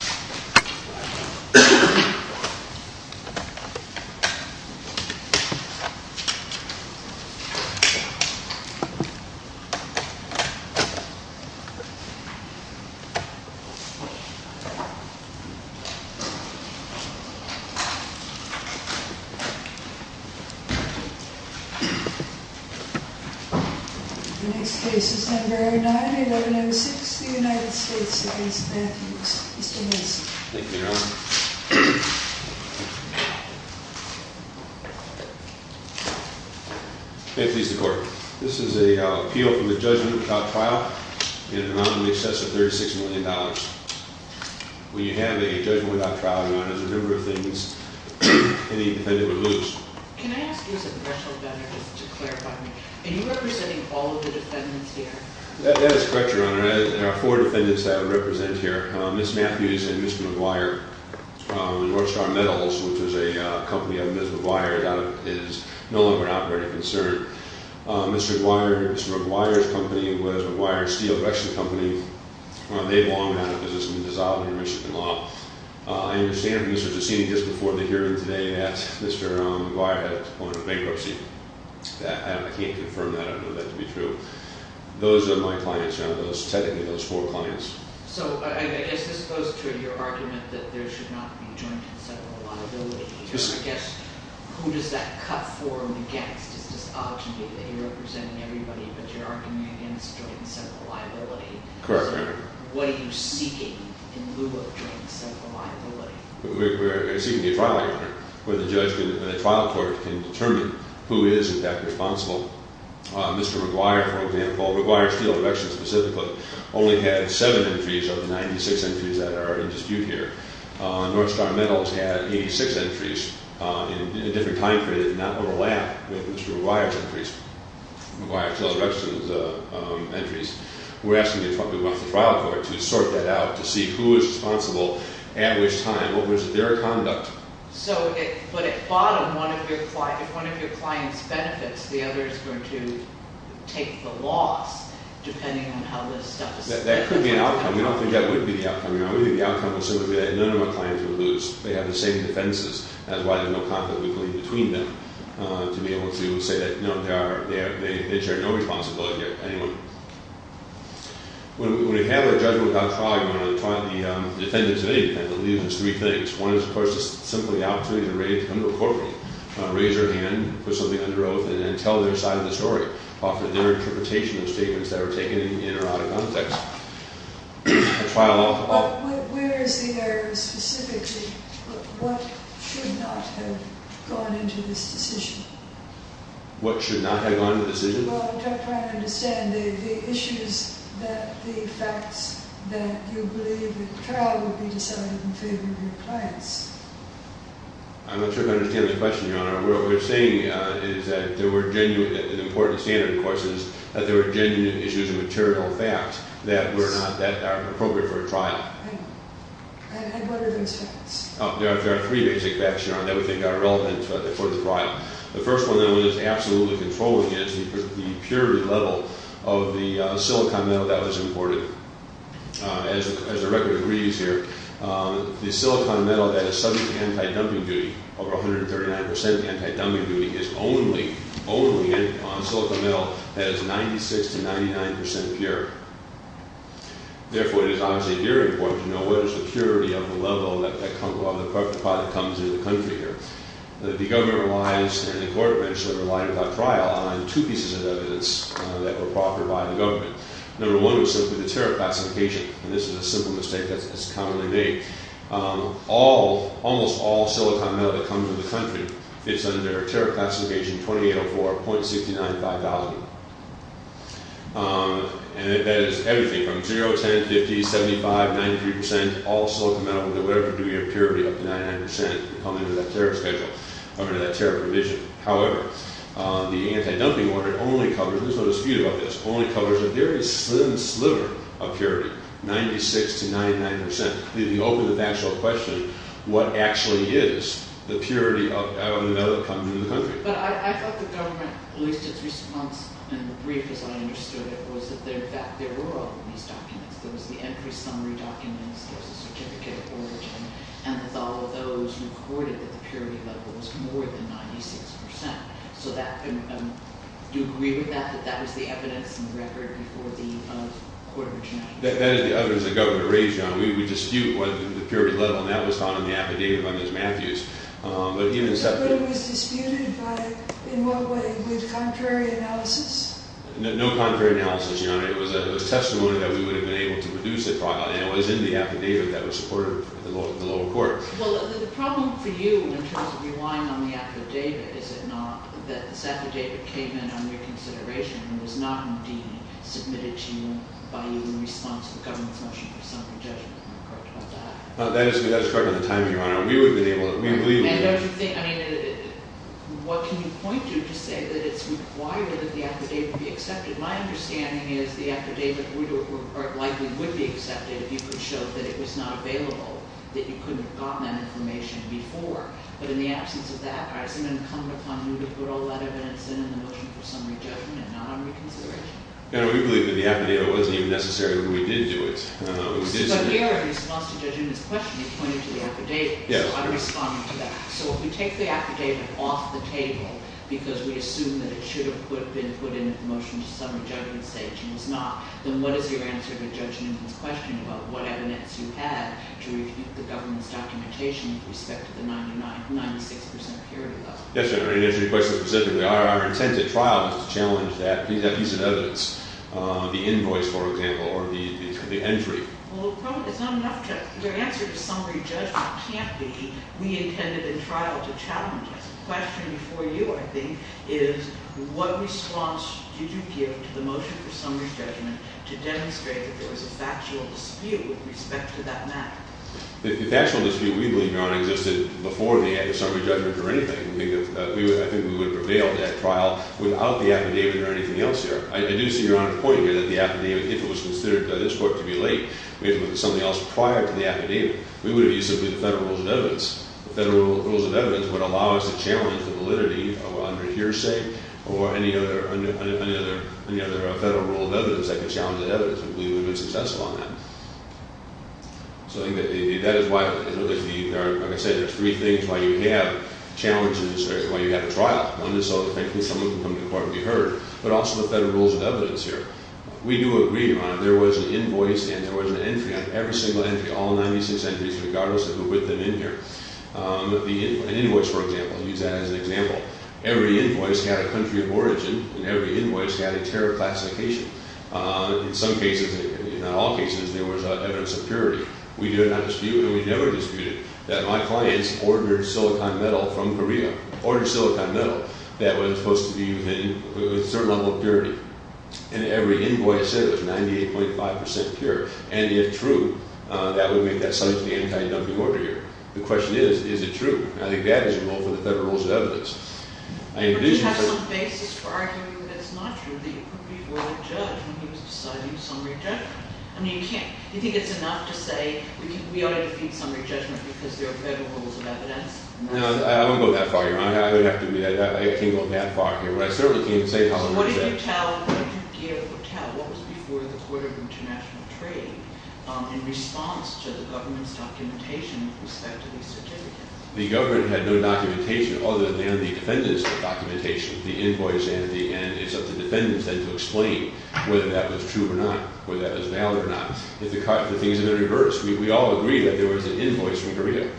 Mr. Matthews, please remain seated Thank you, Your Honor. May it please the Court. This is an appeal for the judgment without trial in an amount in excess of $36 million. When you have a judgment without trial, Your Honor, there's a number of things any defendant would lose. Can I ask you as a professional defender to clarify, are you representing all of the defendants here? That is correct, Your Honor. There are four defendants that I represent here. Ms. Matthews and Mr. McGuire. Northstar Metals, which is a company of Ms. McGuire, is no longer an operating concern. Mr. McGuire's company was McGuire's steel production company. They long had a position dissolved under Michigan law. I understand from Mr. Giussini just before the hearing today that Mr. McGuire had a point of bankruptcy. I can't confirm that. I don't know that to be true. Those are my clients, technically those four clients. So I guess this goes to your argument that there should not be joint and several liability. I guess, who does that cut for and against? It's just obvious that you're representing everybody, but you're arguing against joint and several liability. Correct, Your Honor. So what are you seeking in lieu of joint and several liability? We're seeking a trial, Your Honor, where the trial court can determine who is, in fact, responsible. Mr. McGuire, for example, McGuire Steel Directions, specifically, only had seven entries of the 96 entries that are in dispute here. Northstar Metals had 86 entries in a different time period and not overlap with Mr. McGuire's entries. McGuire Steel Directions entries. We're asking the trial court to sort that out, to see who is responsible at which time. What was their conduct? So, but at bottom, if one of your clients benefits, the other is going to take the loss, depending on how this stuff is- That could be an outcome. We don't think that would be the outcome, Your Honor. We think the outcome would simply be that none of our clients would lose. They have the same defenses. That's why there's no conflict, we believe, between them, to be able to say that, no, they share no responsibility with anyone. When we have a judgment without a trial, Your Honor, the defendants of any defendant, it leaves us three things. One is, of course, simply the opportunity to come to a courtroom, raise your hand, put something under oath, and then tell their side of the story. Offer their interpretation of statements that were taken in or out of context. The trial- But where is the error, specifically? What should not have gone into this decision? What should not have gone into the decision? Well, I'm trying to understand the issues that the facts that you believe the trial would be decided in favor of your clients. I'm not sure if I understand this question, Your Honor. What we're saying is that there were genuine- an important standard, of course, is that there were genuine issues and material facts that were not- that are appropriate for a trial. And what are those facts? There are three basic facts, Your Honor, that we think are relevant for the trial. The first one, though, that is absolutely controlling is the purity level of the silicon metal that was imported. As the record agrees here, the silicon metal that is subject to anti-dumping duty, over 139% anti-dumping duty, is only on silicon metal that is 96% to 99% pure. Therefore, it is obviously very important to know what is the purity of the level of the product that comes into the country here. The government relies, and the court eventually relied upon trial on two pieces of evidence that were proffered by the government. Number one was simply the tariff classification. And this is a simple mistake that's commonly made. All- almost all silicon metal that comes into the country, it's under tariff classification 2804.695,000. And that is everything from 0, 10, 50, 75, 93%, all silicon metal. Whatever do we have purity up to 99% coming into that tariff schedule, coming into that tariff provision. However, the anti-dumping order only covers- there's no dispute about this- only covers a very slim sliver of purity, 96% to 99%. Leaving open the actual question, what actually is the purity of the metal that comes into the country? But I thought the government, at least its response in the brief as I understood it, was that there were all of these documents. There was the entry summary documents, there was the certificate of origin, and that all of those recorded that the purity level was more than 96%. So that- do you agree with that, that that was the evidence in the record before the court of attorney? That is the evidence that the government raised, John. We dispute whether the purity level, and that was found in the affidavit by Ms. Matthews. But it was disputed by- in what way? With contrary analysis? No contrary analysis, Your Honor. It was a testimony that we would have been able to produce a trial. And it was in the affidavit that was supported by the lower court. Well, the problem for you, in terms of relying on the affidavit, is it not that this affidavit came in under consideration and was not indeed submitted to you by you in response to the government's motion for summary judgment? That is correct on the timing, Your Honor. We would have been able to- And don't you think- I mean, what can you point to to say that it's required that the affidavit be accepted? My understanding is the affidavit likely would be accepted if you could show that it was not available, that you couldn't have gotten that information before. But in the absence of that, has it been incumbent upon you to put all that evidence in the motion for summary judgment and not on reconsideration? No, we believe that the affidavit wasn't even necessary when we did do it. But here, in response to Judge Newman's question, you pointed to the affidavit. So I'm responding to that. So if we take the affidavit off the table because we assume that it should have been put in at the motion for summary judgment stage and was not, then what is your answer to Judge Newman's question about what evidence you had to refute the government's documentation with respect to the 96 percent purity level? Yes, Your Honor, in answer to your question specifically, our intent at trial was to challenge that piece of evidence. The invoice, for example, or the entry. Well, it's not enough. Your answer to summary judgment can't be we intended in trial to challenge it. The question before you, I think, is what response did you give to the motion for summary judgment to demonstrate that there was a factual dispute with respect to that matter? The factual dispute, we believe, Your Honor, existed before the summary judgment or anything. I think we would prevail at that trial without the affidavit or anything else there. I do see Your Honor's point here that the affidavit, if it was considered by this court to be late, we have to look at something else prior to the affidavit. We would have used simply the federal rules of evidence. The federal rules of evidence would allow us to challenge the validity of under hearsay or any other federal rule of evidence that could challenge that evidence. We believe we would have been successful on that. So I think that is why, like I said, there's three things why you have challenges or why you have a trial. One is so that someone can come to court and be heard, but also the federal rules of evidence here. We do agree, Your Honor, there was an invoice and there was an entry on every single entry, all 96 entries, regardless of who put them in here. An invoice, for example, I'll use that as an example. Every invoice had a country of origin and every invoice had a tariff classification. In some cases, not all cases, there was evidence of purity. We did not dispute and we never disputed that my clients ordered silicon metal from Korea, ordered silicon metal. That was supposed to be with a certain level of purity. And every invoice said it was 98.5% pure. And if true, that would make that silicon anti-dumping order here. The question is, is it true? And I think that is the goal for the federal rules of evidence. I envision... But you have some basis for arguing that it's not true, that you could be a royal judge when he was deciding summary judgment. I mean, you can't. Do you think it's enough to say we ought to defeat summary judgment because there are federal rules of evidence? No, I don't go that far, Your Honor. I don't have to be that... I can't go that far. But I certainly can't say how I would have said... So what did you tell... What did you give or tell? What was before the Court of International Trade in response to the government's documentation with respect to these certificates? The government had no documentation other than the defendant's documentation, the invoice and the... And it's up to the defendants then to explain whether that was true or not, whether that was valid or not. The things have been reversed. We all agree that there was an invoice from Korea.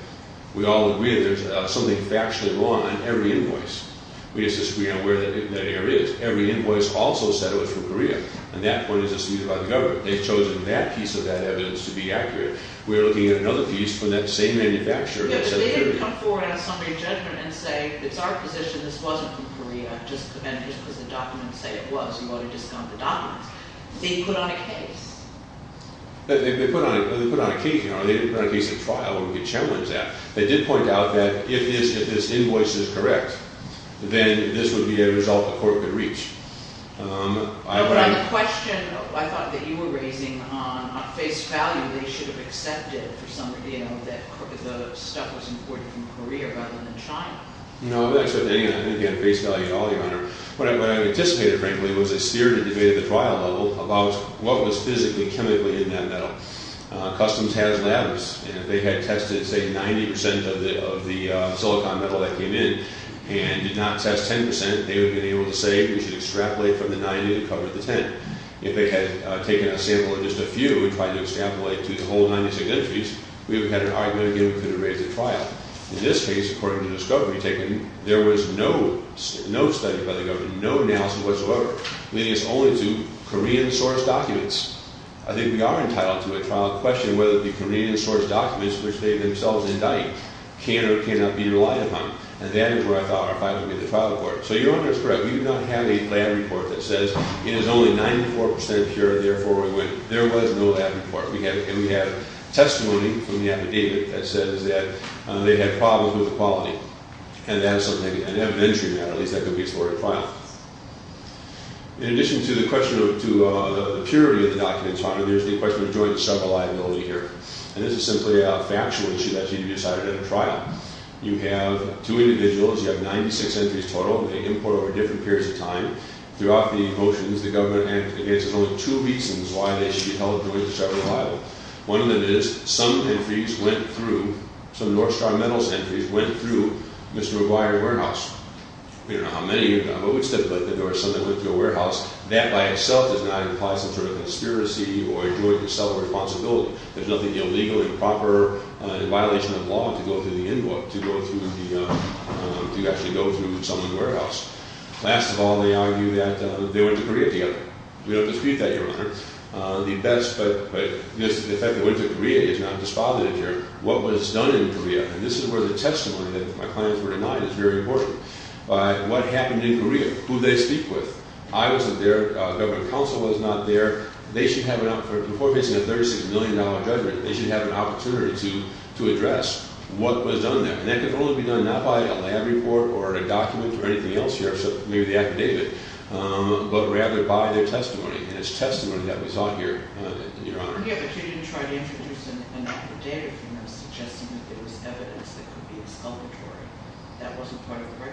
We all agree that there's something factually wrong on every invoice. We just disagree on where that error is. Every invoice also said it was from Korea, and that point is assumed by the government. They've chosen that piece of that evidence to be accurate. We're looking at another piece from that same manufacturer that said it could be. But they didn't come forward on summary judgment and say, It's our position this wasn't from Korea, just because the documents say it was. You ought to discount the documents. They put on a case. They put on a case, Your Honor. They didn't put on a case of trial where we could challenge that. They did point out that if this invoice is correct, then this would be a result the court could reach. But on the question I thought that you were raising on face value, they should have accepted that the stuff was imported from Korea rather than China. No, I didn't accept any of that. I didn't get face value at all, Your Honor. What I anticipated, frankly, was a sphere to debate at the trial level about what was physically, chemically in that metal. Customs has labs, and if they had tested, say, 90 percent of the silicon metal that came in and did not test 10 percent, they would have been able to say, We should extrapolate from the 90 to cover the 10. If they had taken a sample of just a few and tried to extrapolate to the whole 96 entries, we would have had an argument again we could have raised at trial. In this case, according to the discovery taken, there was no study by the government, no analysis whatsoever, leading us only to Korean-sourced documents. I think we are entitled to a trial question whether the Korean-sourced documents, which they themselves indict, can or cannot be relied upon. And that is where I thought our file would be at the trial court. So Your Honor is correct. We do not have a lab report that says it is only 94 percent pure, therefore we went. There was no lab report. We have testimony from the affidavit that says that they had problems with the quality. And that is something, an evidentiary matter, at least that could be explored at trial. In addition to the question of the purity of the documents, Your Honor, there is the question of joint and several liability here. And this is simply a factual issue that should be decided at a trial. You have two individuals. You have 96 entries total. They import over different periods of time. Throughout the motions, the government has only two reasons why they should be held jointly and several liable. One of them is some entries went through, some North Star Metals entries, went through Mr. McGuire's warehouse. We don't know how many, but we would stipulate that there were some that went through a warehouse. That by itself does not imply some sort of conspiracy or a joint and several responsibility. There is nothing illegal, improper, in violation of law to go through the Inwood, to go through the, to actually go through someone's warehouse. Last of all, they argue that they went to Korea together. We don't dispute that, Your Honor. The best, but the fact that they went to Korea is not dispositive here. What was done in Korea, and this is where the testimony that my clients were denied, is very important. What happened in Korea, who they speak with. I wasn't there. Government counsel was not there. They should have, before facing a $36 million judgment, they should have an opportunity to address what was done there. And that could only be done not by a lab report or a document or anything else here, except maybe the affidavit, but rather by their testimony. And it's testimony that we saw here, Your Honor. Yeah, but you didn't try to introduce an affidavit from them as evidence that could be exculpatory. That wasn't part of the record.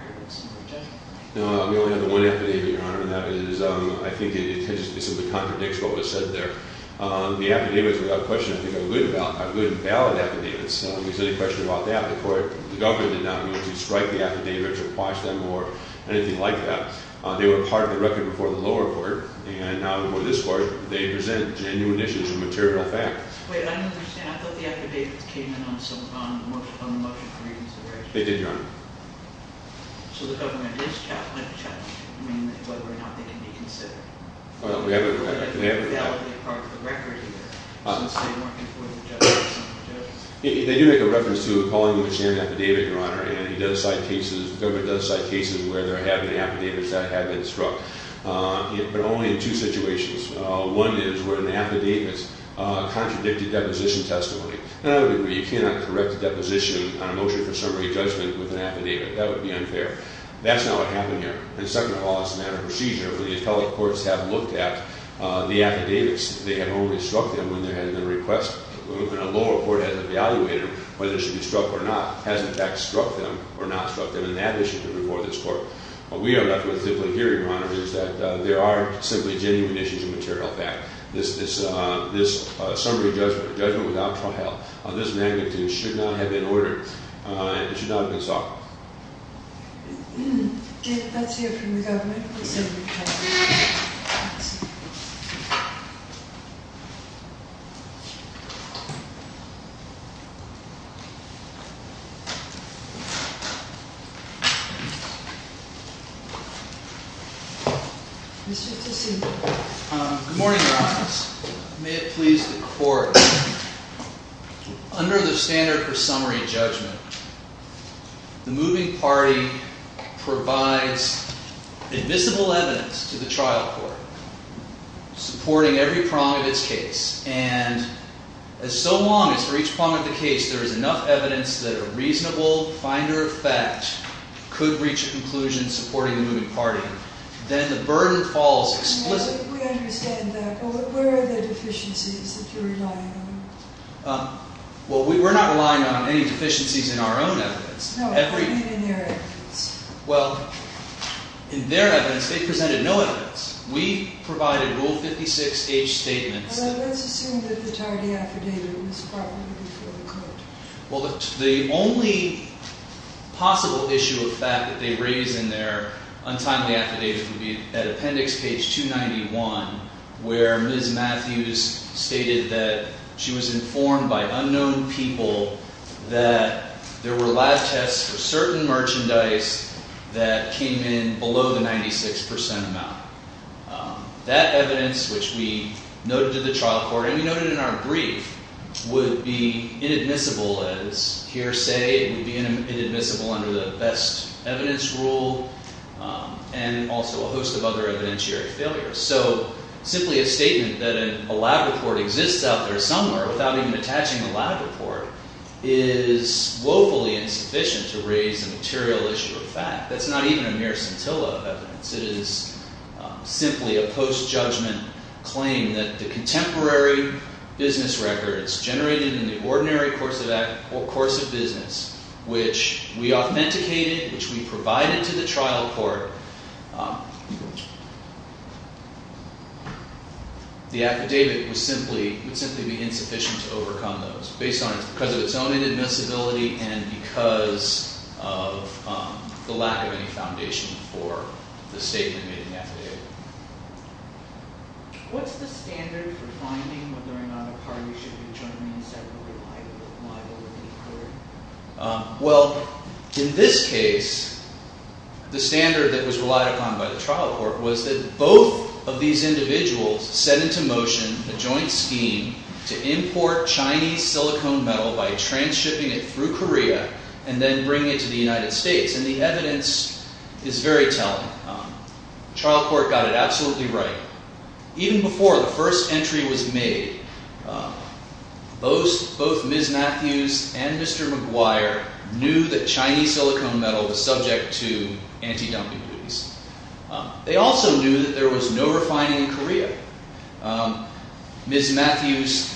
No, we only have one affidavit, Your Honor, and that is, I think it simply contradicts what was said there. The affidavits, without question, I think are good valid affidavits. There's no question about that. The court, the government did not mean to strike the affidavits or quash them or anything like that. They were part of the record before the lower court, and now before this court, they present genuine issues of material fact. Wait, I don't understand. I thought the affidavits came in on the motion for reconsideration. They did, Your Honor. So the government is challenging them, whether or not they need to be considered. Well, we haven't heard that. That would be part of the record, either, since they weren't in court with the judge or something. They do make a reference to calling the machinery an affidavit, Your Honor, and the government does cite cases where there have been affidavits that have been struck, but only in two situations. One is where an affidavit contradicted deposition testimony. In another degree, you cannot correct a deposition on a motion for summary judgment with an affidavit. That would be unfair. That's not what happened here. And second of all, it's a matter of procedure. The appellate courts have looked at the affidavits. They have only struck them when there has been a request. When a lower court has evaluated whether it should be struck or not, has in fact struck them or not struck them, and that issue could be before this court. What we are left with here, Your Honor, is that there are simply genuine issues of material fact. This summary judgment, a judgment without trial, this magnitude should not have been ordered. It should not have been sought. David, that's for you from the government. Mr. Tessit. Good morning, Your Honor. May it please the Court. Under the standard for summary judgment, the moving party provides invisible evidence to the trial court, supporting every prong of its case. And as so long as for each prong of the case, there is enough evidence that a reasonable finder of fact could reach a conclusion supporting the moving party, then the burden falls explicitly. We understand that. But where are the deficiencies that you're relying on? Well, we're not relying on any deficiencies in our own evidence. No, I mean in their evidence. Well, in their evidence, they presented no evidence. We provided Rule 56H statements. Well, then let's assume that the tardy affidavit was probably before the court. Well, the only possible issue of fact that they raise in their untimely affidavit would be at Appendix Page 291, where Ms. Matthews stated that she was informed by unknown people that there were lab tests for certain merchandise that came in below the 96% amount. That evidence, which we noted to the trial court, and we noted in our brief, would be inadmissible as hearsay. It would be inadmissible under the best evidence rule and also a host of other evidentiary failures. So simply a statement that a lab report exists out there somewhere without even attaching a lab report is woefully insufficient to raise a material issue of fact. That's not even a mere scintilla of evidence. It is simply a post-judgment claim that the contemporary business records generated in the ordinary course of business, which we authenticated, which we provided to the trial court, the affidavit would simply be insufficient to overcome those based on its own inadmissibility and because of the lack of any foundation for the statement made in the affidavit. What's the standard for finding whether or not a card should be jointly and separately liable? Well, in this case, the standard that was relied upon by the trial court was that both of these individuals set into motion a joint scheme to import Chinese silicone metal by transshipping it through Korea and then bringing it to the United States. And the evidence is very telling. The trial court got it absolutely right. Even before the first entry was made, both Ms. Matthews and Mr. McGuire knew that Chinese silicone metal was subject to anti-dumping duties. They also knew that there was no refining in Korea. Ms. Matthews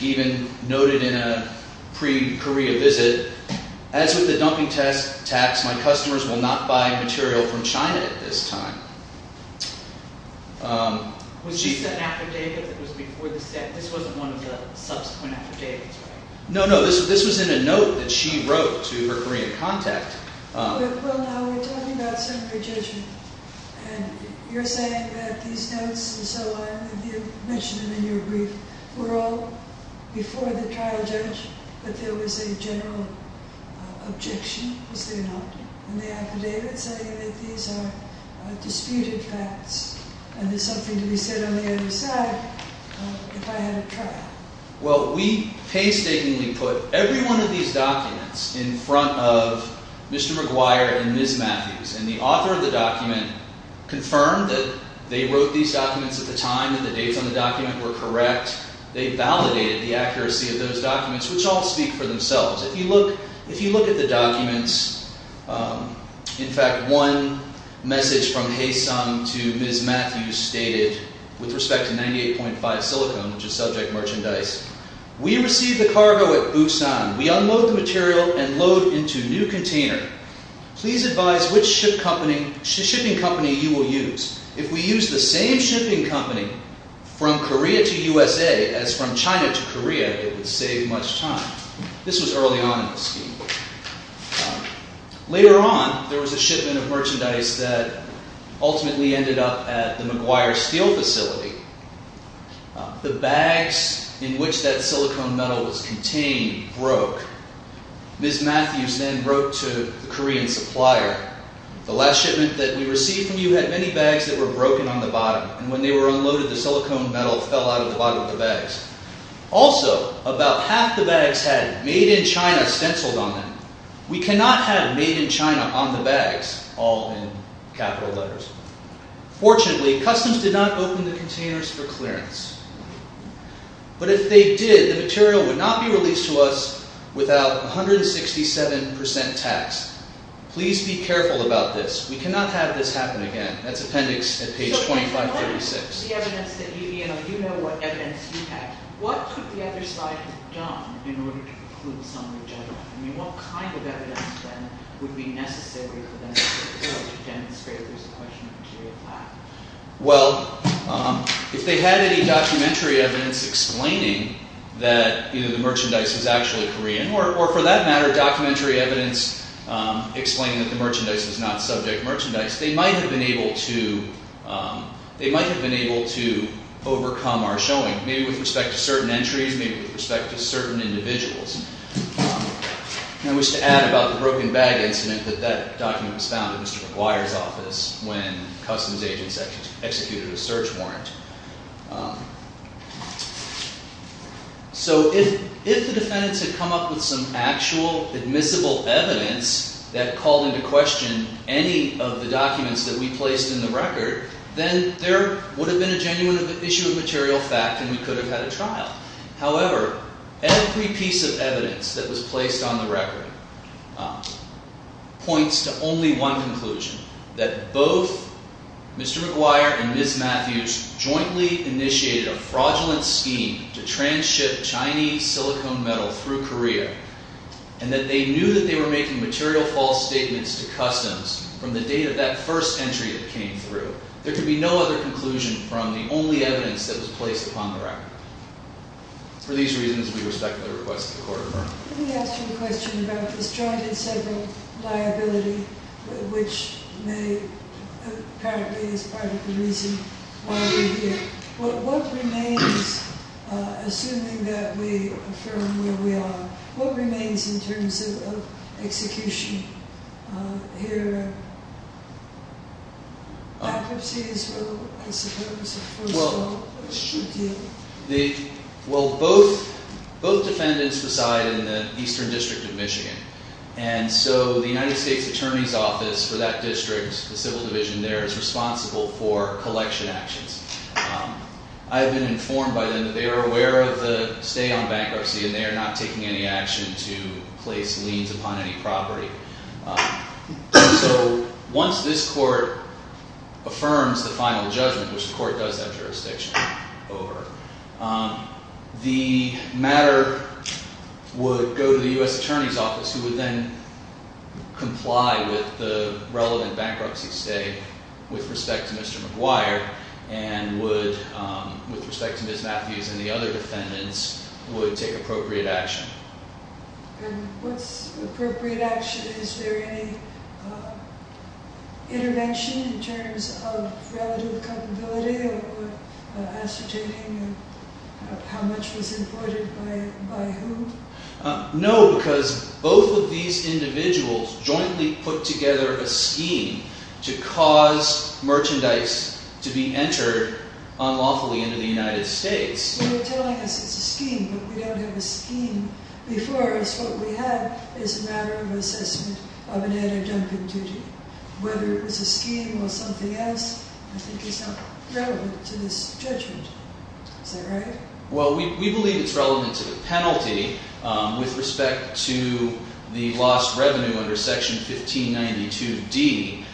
even noted in a pre-Korea visit, as with the dumping tax, my customers will not buy material from China at this time. Was this an affidavit that was before the statute? This wasn't one of the subsequent affidavits, right? No, no. This was in a note that she wrote to her Korean contact. Well, now we're talking about segregation. And you're saying that these notes and so on, if you mention them in your brief, were all before the trial judge, but there was a general objection, was there not, in the affidavit saying that these are disputed facts and there's something to be said on the other side if I had a trial. Well, we painstakingly put every one of these documents in front of Mr. McGuire and Ms. Matthews and the author of the document confirmed that they wrote these documents at the time and the dates on the document were correct. They validated the accuracy of those documents, which all speak for themselves. If you look at the documents, in fact, one message from Haesong to Ms. Matthews stated with respect to 98.5 silicone, which is subject merchandise, we received the cargo at Busan. We unload the material and load into new container. Please advise which shipping company you will use. If we use the same shipping company from Korea to USA as from China to Korea, it would save much time. This was early on in the scheme. Later on, there was a shipment of merchandise that ultimately ended up at the McGuire Steel Facility. The bags in which that silicone metal was contained broke. Ms. Matthews then wrote to the Korean supplier, the last shipment that we received from you had many bags that were broken on the bottom and when they were unloaded, the silicone metal fell out of the bottom of the bags. Also, about half the bags had Made in China stenciled on them. We cannot have Made in China on the bags, all in capital letters. Fortunately, customs did not open the containers for clearance. But if they did, the material would not be released to us without 167% tax. Please be careful about this. We cannot have this happen again. That's Appendix at page 2536. So based on the evidence that you know, you know what evidence you have, what could the other side have done in order to include some of the general? I mean, what kind of evidence then would be necessary for them to be able to demonstrate there's a question of material tax? Well, if they had any documentary evidence explaining that either the merchandise is actually Korean or for that matter, documentary evidence explaining that the merchandise is not subject merchandise, they might have been able to, they might have been able to overcome our showing, maybe with respect to certain entries, maybe with respect to certain individuals. I wish to add about the broken bag incident that that document was found at Mr. McGuire's office when customs agents executed a search warrant. So if the defendants had come up with some actual admissible evidence that called into question any of the documents that we placed in the record, then there would have been a genuine issue of material fact and we could have had a trial. However, every piece of evidence that was placed on the record points to only one conclusion, that both Mr. McGuire and Ms. Matthews jointly initiated a fraudulent scheme to transship Chinese silicone metal through Korea and that they knew that they were making material false statements to customs from the date of that first entry it came through. There could be no other conclusion from the only evidence that was placed upon the record. For these reasons, we respect the request of the Court of Affirmation. Let me ask you a question about this joint and several liability, which may, apparently, is part of the reason why we're here. What remains, assuming that we affirm where we are, what remains in terms of execution here? Accuracy is where I suppose the first law should deal. Well, both defendants reside in the Eastern District of Michigan and so the United States Attorney's Office for that district, the Civil Division there, is responsible for collection actions. I've been informed by them that they are aware of the stay on bankruptcy and they are not taking any action to place liens upon any property. So once this court affirms the final judgment, which the court does have jurisdiction over, the matter would go to the U.S. Attorney's Office who would then comply with the relevant bankruptcy stay with respect to Mr. McGuire and would, with respect to Ms. Matthews and the other defendants, would take appropriate action. And what's appropriate action? Is there any intervention in terms of relative culpability or ascertaining of how much was avoided by whom? No, because both of these individuals jointly put together a scheme to cause merchandise to be entered unlawfully into the United States. You're telling us it's a scheme, but we don't have a scheme before us. What we have is a matter of assessment of an added dumping duty. Whether it was a scheme or something else, I think is not relevant to this judgment. Is that right? Well, we believe it's relevant to the penalty. With respect to the lost revenue under Section 1592D,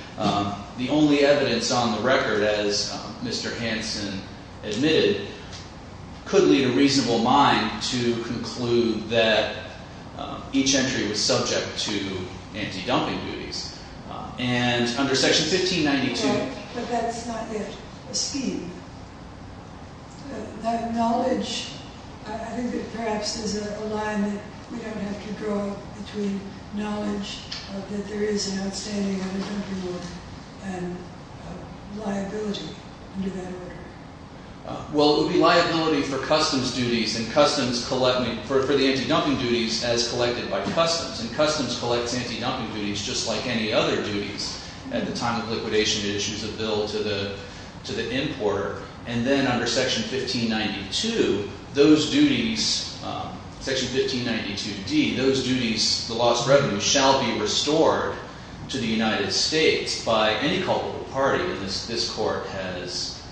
the only evidence on the record, as Mr. Hanson admitted, could lead a reasonable mind to conclude that each entry was subject to anti-dumping duties. And under Section 1592... Right, but that's not the scheme. That knowledge... I think that perhaps there's a line that we don't have to draw between knowledge that there is an outstanding added dumping order and liability under that order. Well, it would be liability for customs duties and customs collect... for the anti-dumping duties as collected by customs. And customs collects anti-dumping duties just like any other duties at the time of liquidation that issues a bill to the importer. And then under Section 1592, those duties... Section 1592D, those duties, the lost revenue, shall be restored to the United States by any culpable party when this court has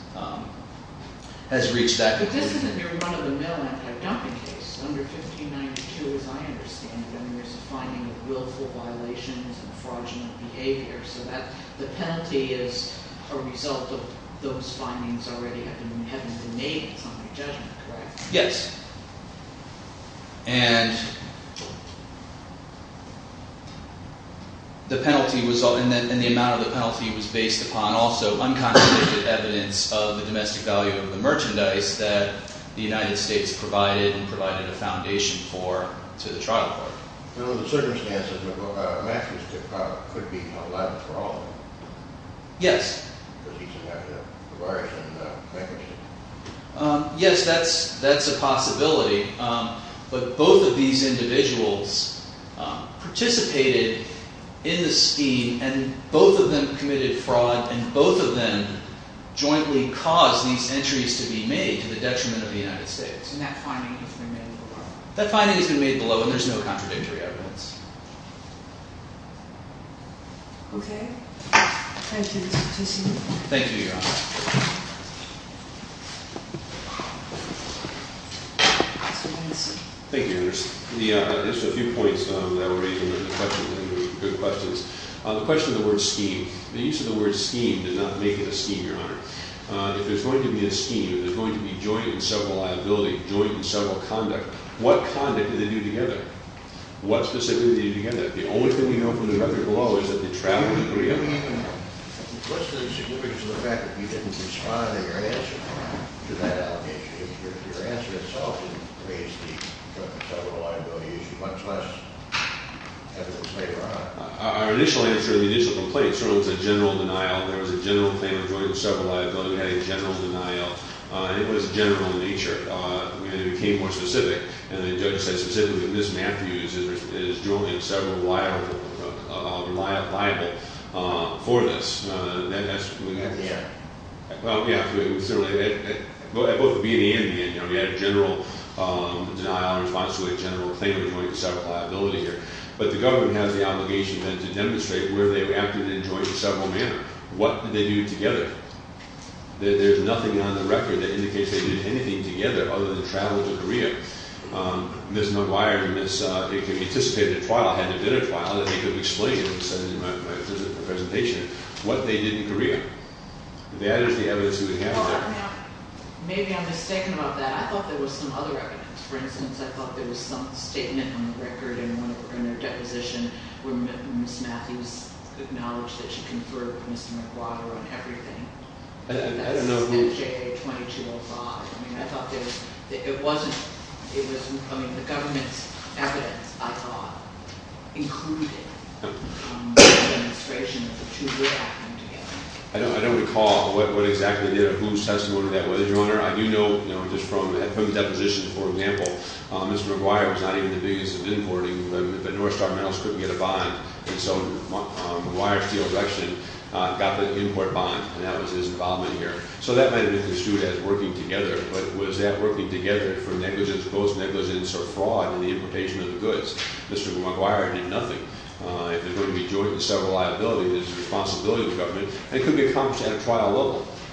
reached that conclusion. But this isn't a mere run-of-the-mill anti-dumping case. Under 1592, as I understand it, there's a finding of willful violations and fraudulent behavior. So the penalty is a result of those findings already having been made. It's not a judgment, correct? Yes. And... the penalty was... and the amount of the penalty was based upon also unconstituted evidence of the domestic value of the merchandise that the United States provided and provided a foundation for to the trial court. Now, in the circumstances, Matthews could be held liable for all of them. Yes. Because he's an act of barbarism and bankruptcy. Yes, that's... that's a possibility. But both of these individuals participated in the scheme and both of them committed fraud and both of them jointly caused these entries to be made to the detriment of the United States. And that finding has been made below. That finding has been made below, and there's no contradictory evidence. Okay. Thank you, Mr. Titzen. Thank you, Your Honor. Mr. Benson. Thank you, Your Honor. Just a few points that were raised in the discussion, and they were good questions. The question of the word scheme. The use of the word scheme did not make it a scheme, Your Honor. If there's going to be a scheme, if there's going to be joint and several liability, joint and several conduct, what conduct did they do together? What specifically did they do together? The only thing we know from the record below is that they traveled to Korea. What's the significance of the fact that you didn't respond in your answer to that allegation? Your answer itself didn't raise the joint and several liability issue, much less evidence later on. Our initial answer, the initial complaint, certainly was a general denial. There was a general claim of joint and several liability. We had a general denial, and it was general in nature. We became more specific, and the judge said specifically, Ms. Matthews is duly and severably liable for this. That's what we got to say. Well, yeah. It was certainly at both the beginning and the end. We had a general denial in response to a general claim of joint and several liability here. But the government has the obligation then to demonstrate where they reacted in joint and several manner. What did they do together? There's nothing on the record that indicates they did anything together other than travel to Korea. Ms. McGuire, if you anticipate a trial, had there been a trial, that they could have explained in my presentation what they did in Korea. That is the evidence we have there. Maybe I'm mistaken about that. I thought there was some other evidence. For instance, I thought there was some statement on the record in their deposition where Ms. Matthews acknowledged that she conferred with Mr. McGuire on everything. I don't know who- That's SJA 2205. I mean, I thought there was- It wasn't- I mean, the government's evidence, I thought, included a demonstration of the two reacting together. I don't recall what exactly did or whose testimony that was. Your Honor, I do know, you know, just from his deposition, for example, Mr. McGuire was not even the biggest of imports. The North Star Metals couldn't get a bond, and so McGuire's deal of action got the import bond, and that was his involvement here. So that might have been construed as working together, but was that working together for negligence, post-negligence, or fraud in the importation of the goods? Mr. McGuire did nothing. If there's going to be joint and several liability, there's a responsibility of the government. It could be accomplished at a trial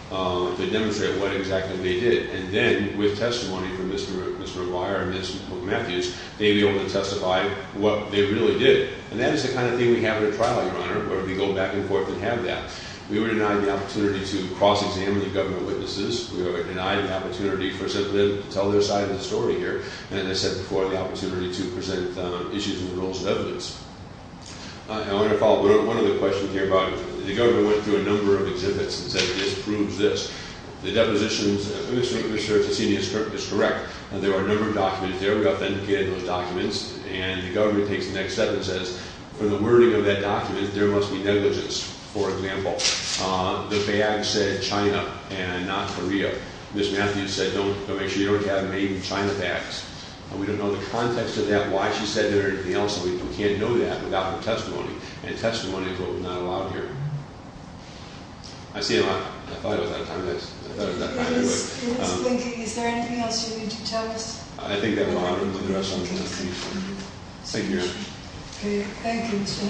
level to demonstrate what exactly they did, and then, with testimony from Mr. McGuire and Mr. Matthews, they'd be able to testify what they really did, and that is the kind of thing we have at a trial, Your Honor, where we go back and forth and have that. We were denied the opportunity to cross-examine the government witnesses. We were denied the opportunity to tell their side of the story here, and as I said before, the opportunity to present issues and rules of evidence. I want to follow up on one of the questions here, but the government went through a number of exhibits and said this proves this. The depositions, Mr. English, sir, if you've seen these, is correct. There are a number of documents there. We have to indicate those documents, and the government takes the next step and says, for the wording of that document, there must be negligence. For example, the bag said China and not Korea. Ms. Matthews said, don't make sure you don't have made in China bags. We don't know the context of that, why she said that, or anything else. We can't know that without her testimony, and a testimony is not allowed here. I see a lot. I thought I was out of time. I thought I was out of time anyway. It's blinking. Is there anything else you need to tell us? I think that will honor the rest of the committee. Thank you, Your Honor. Thank you.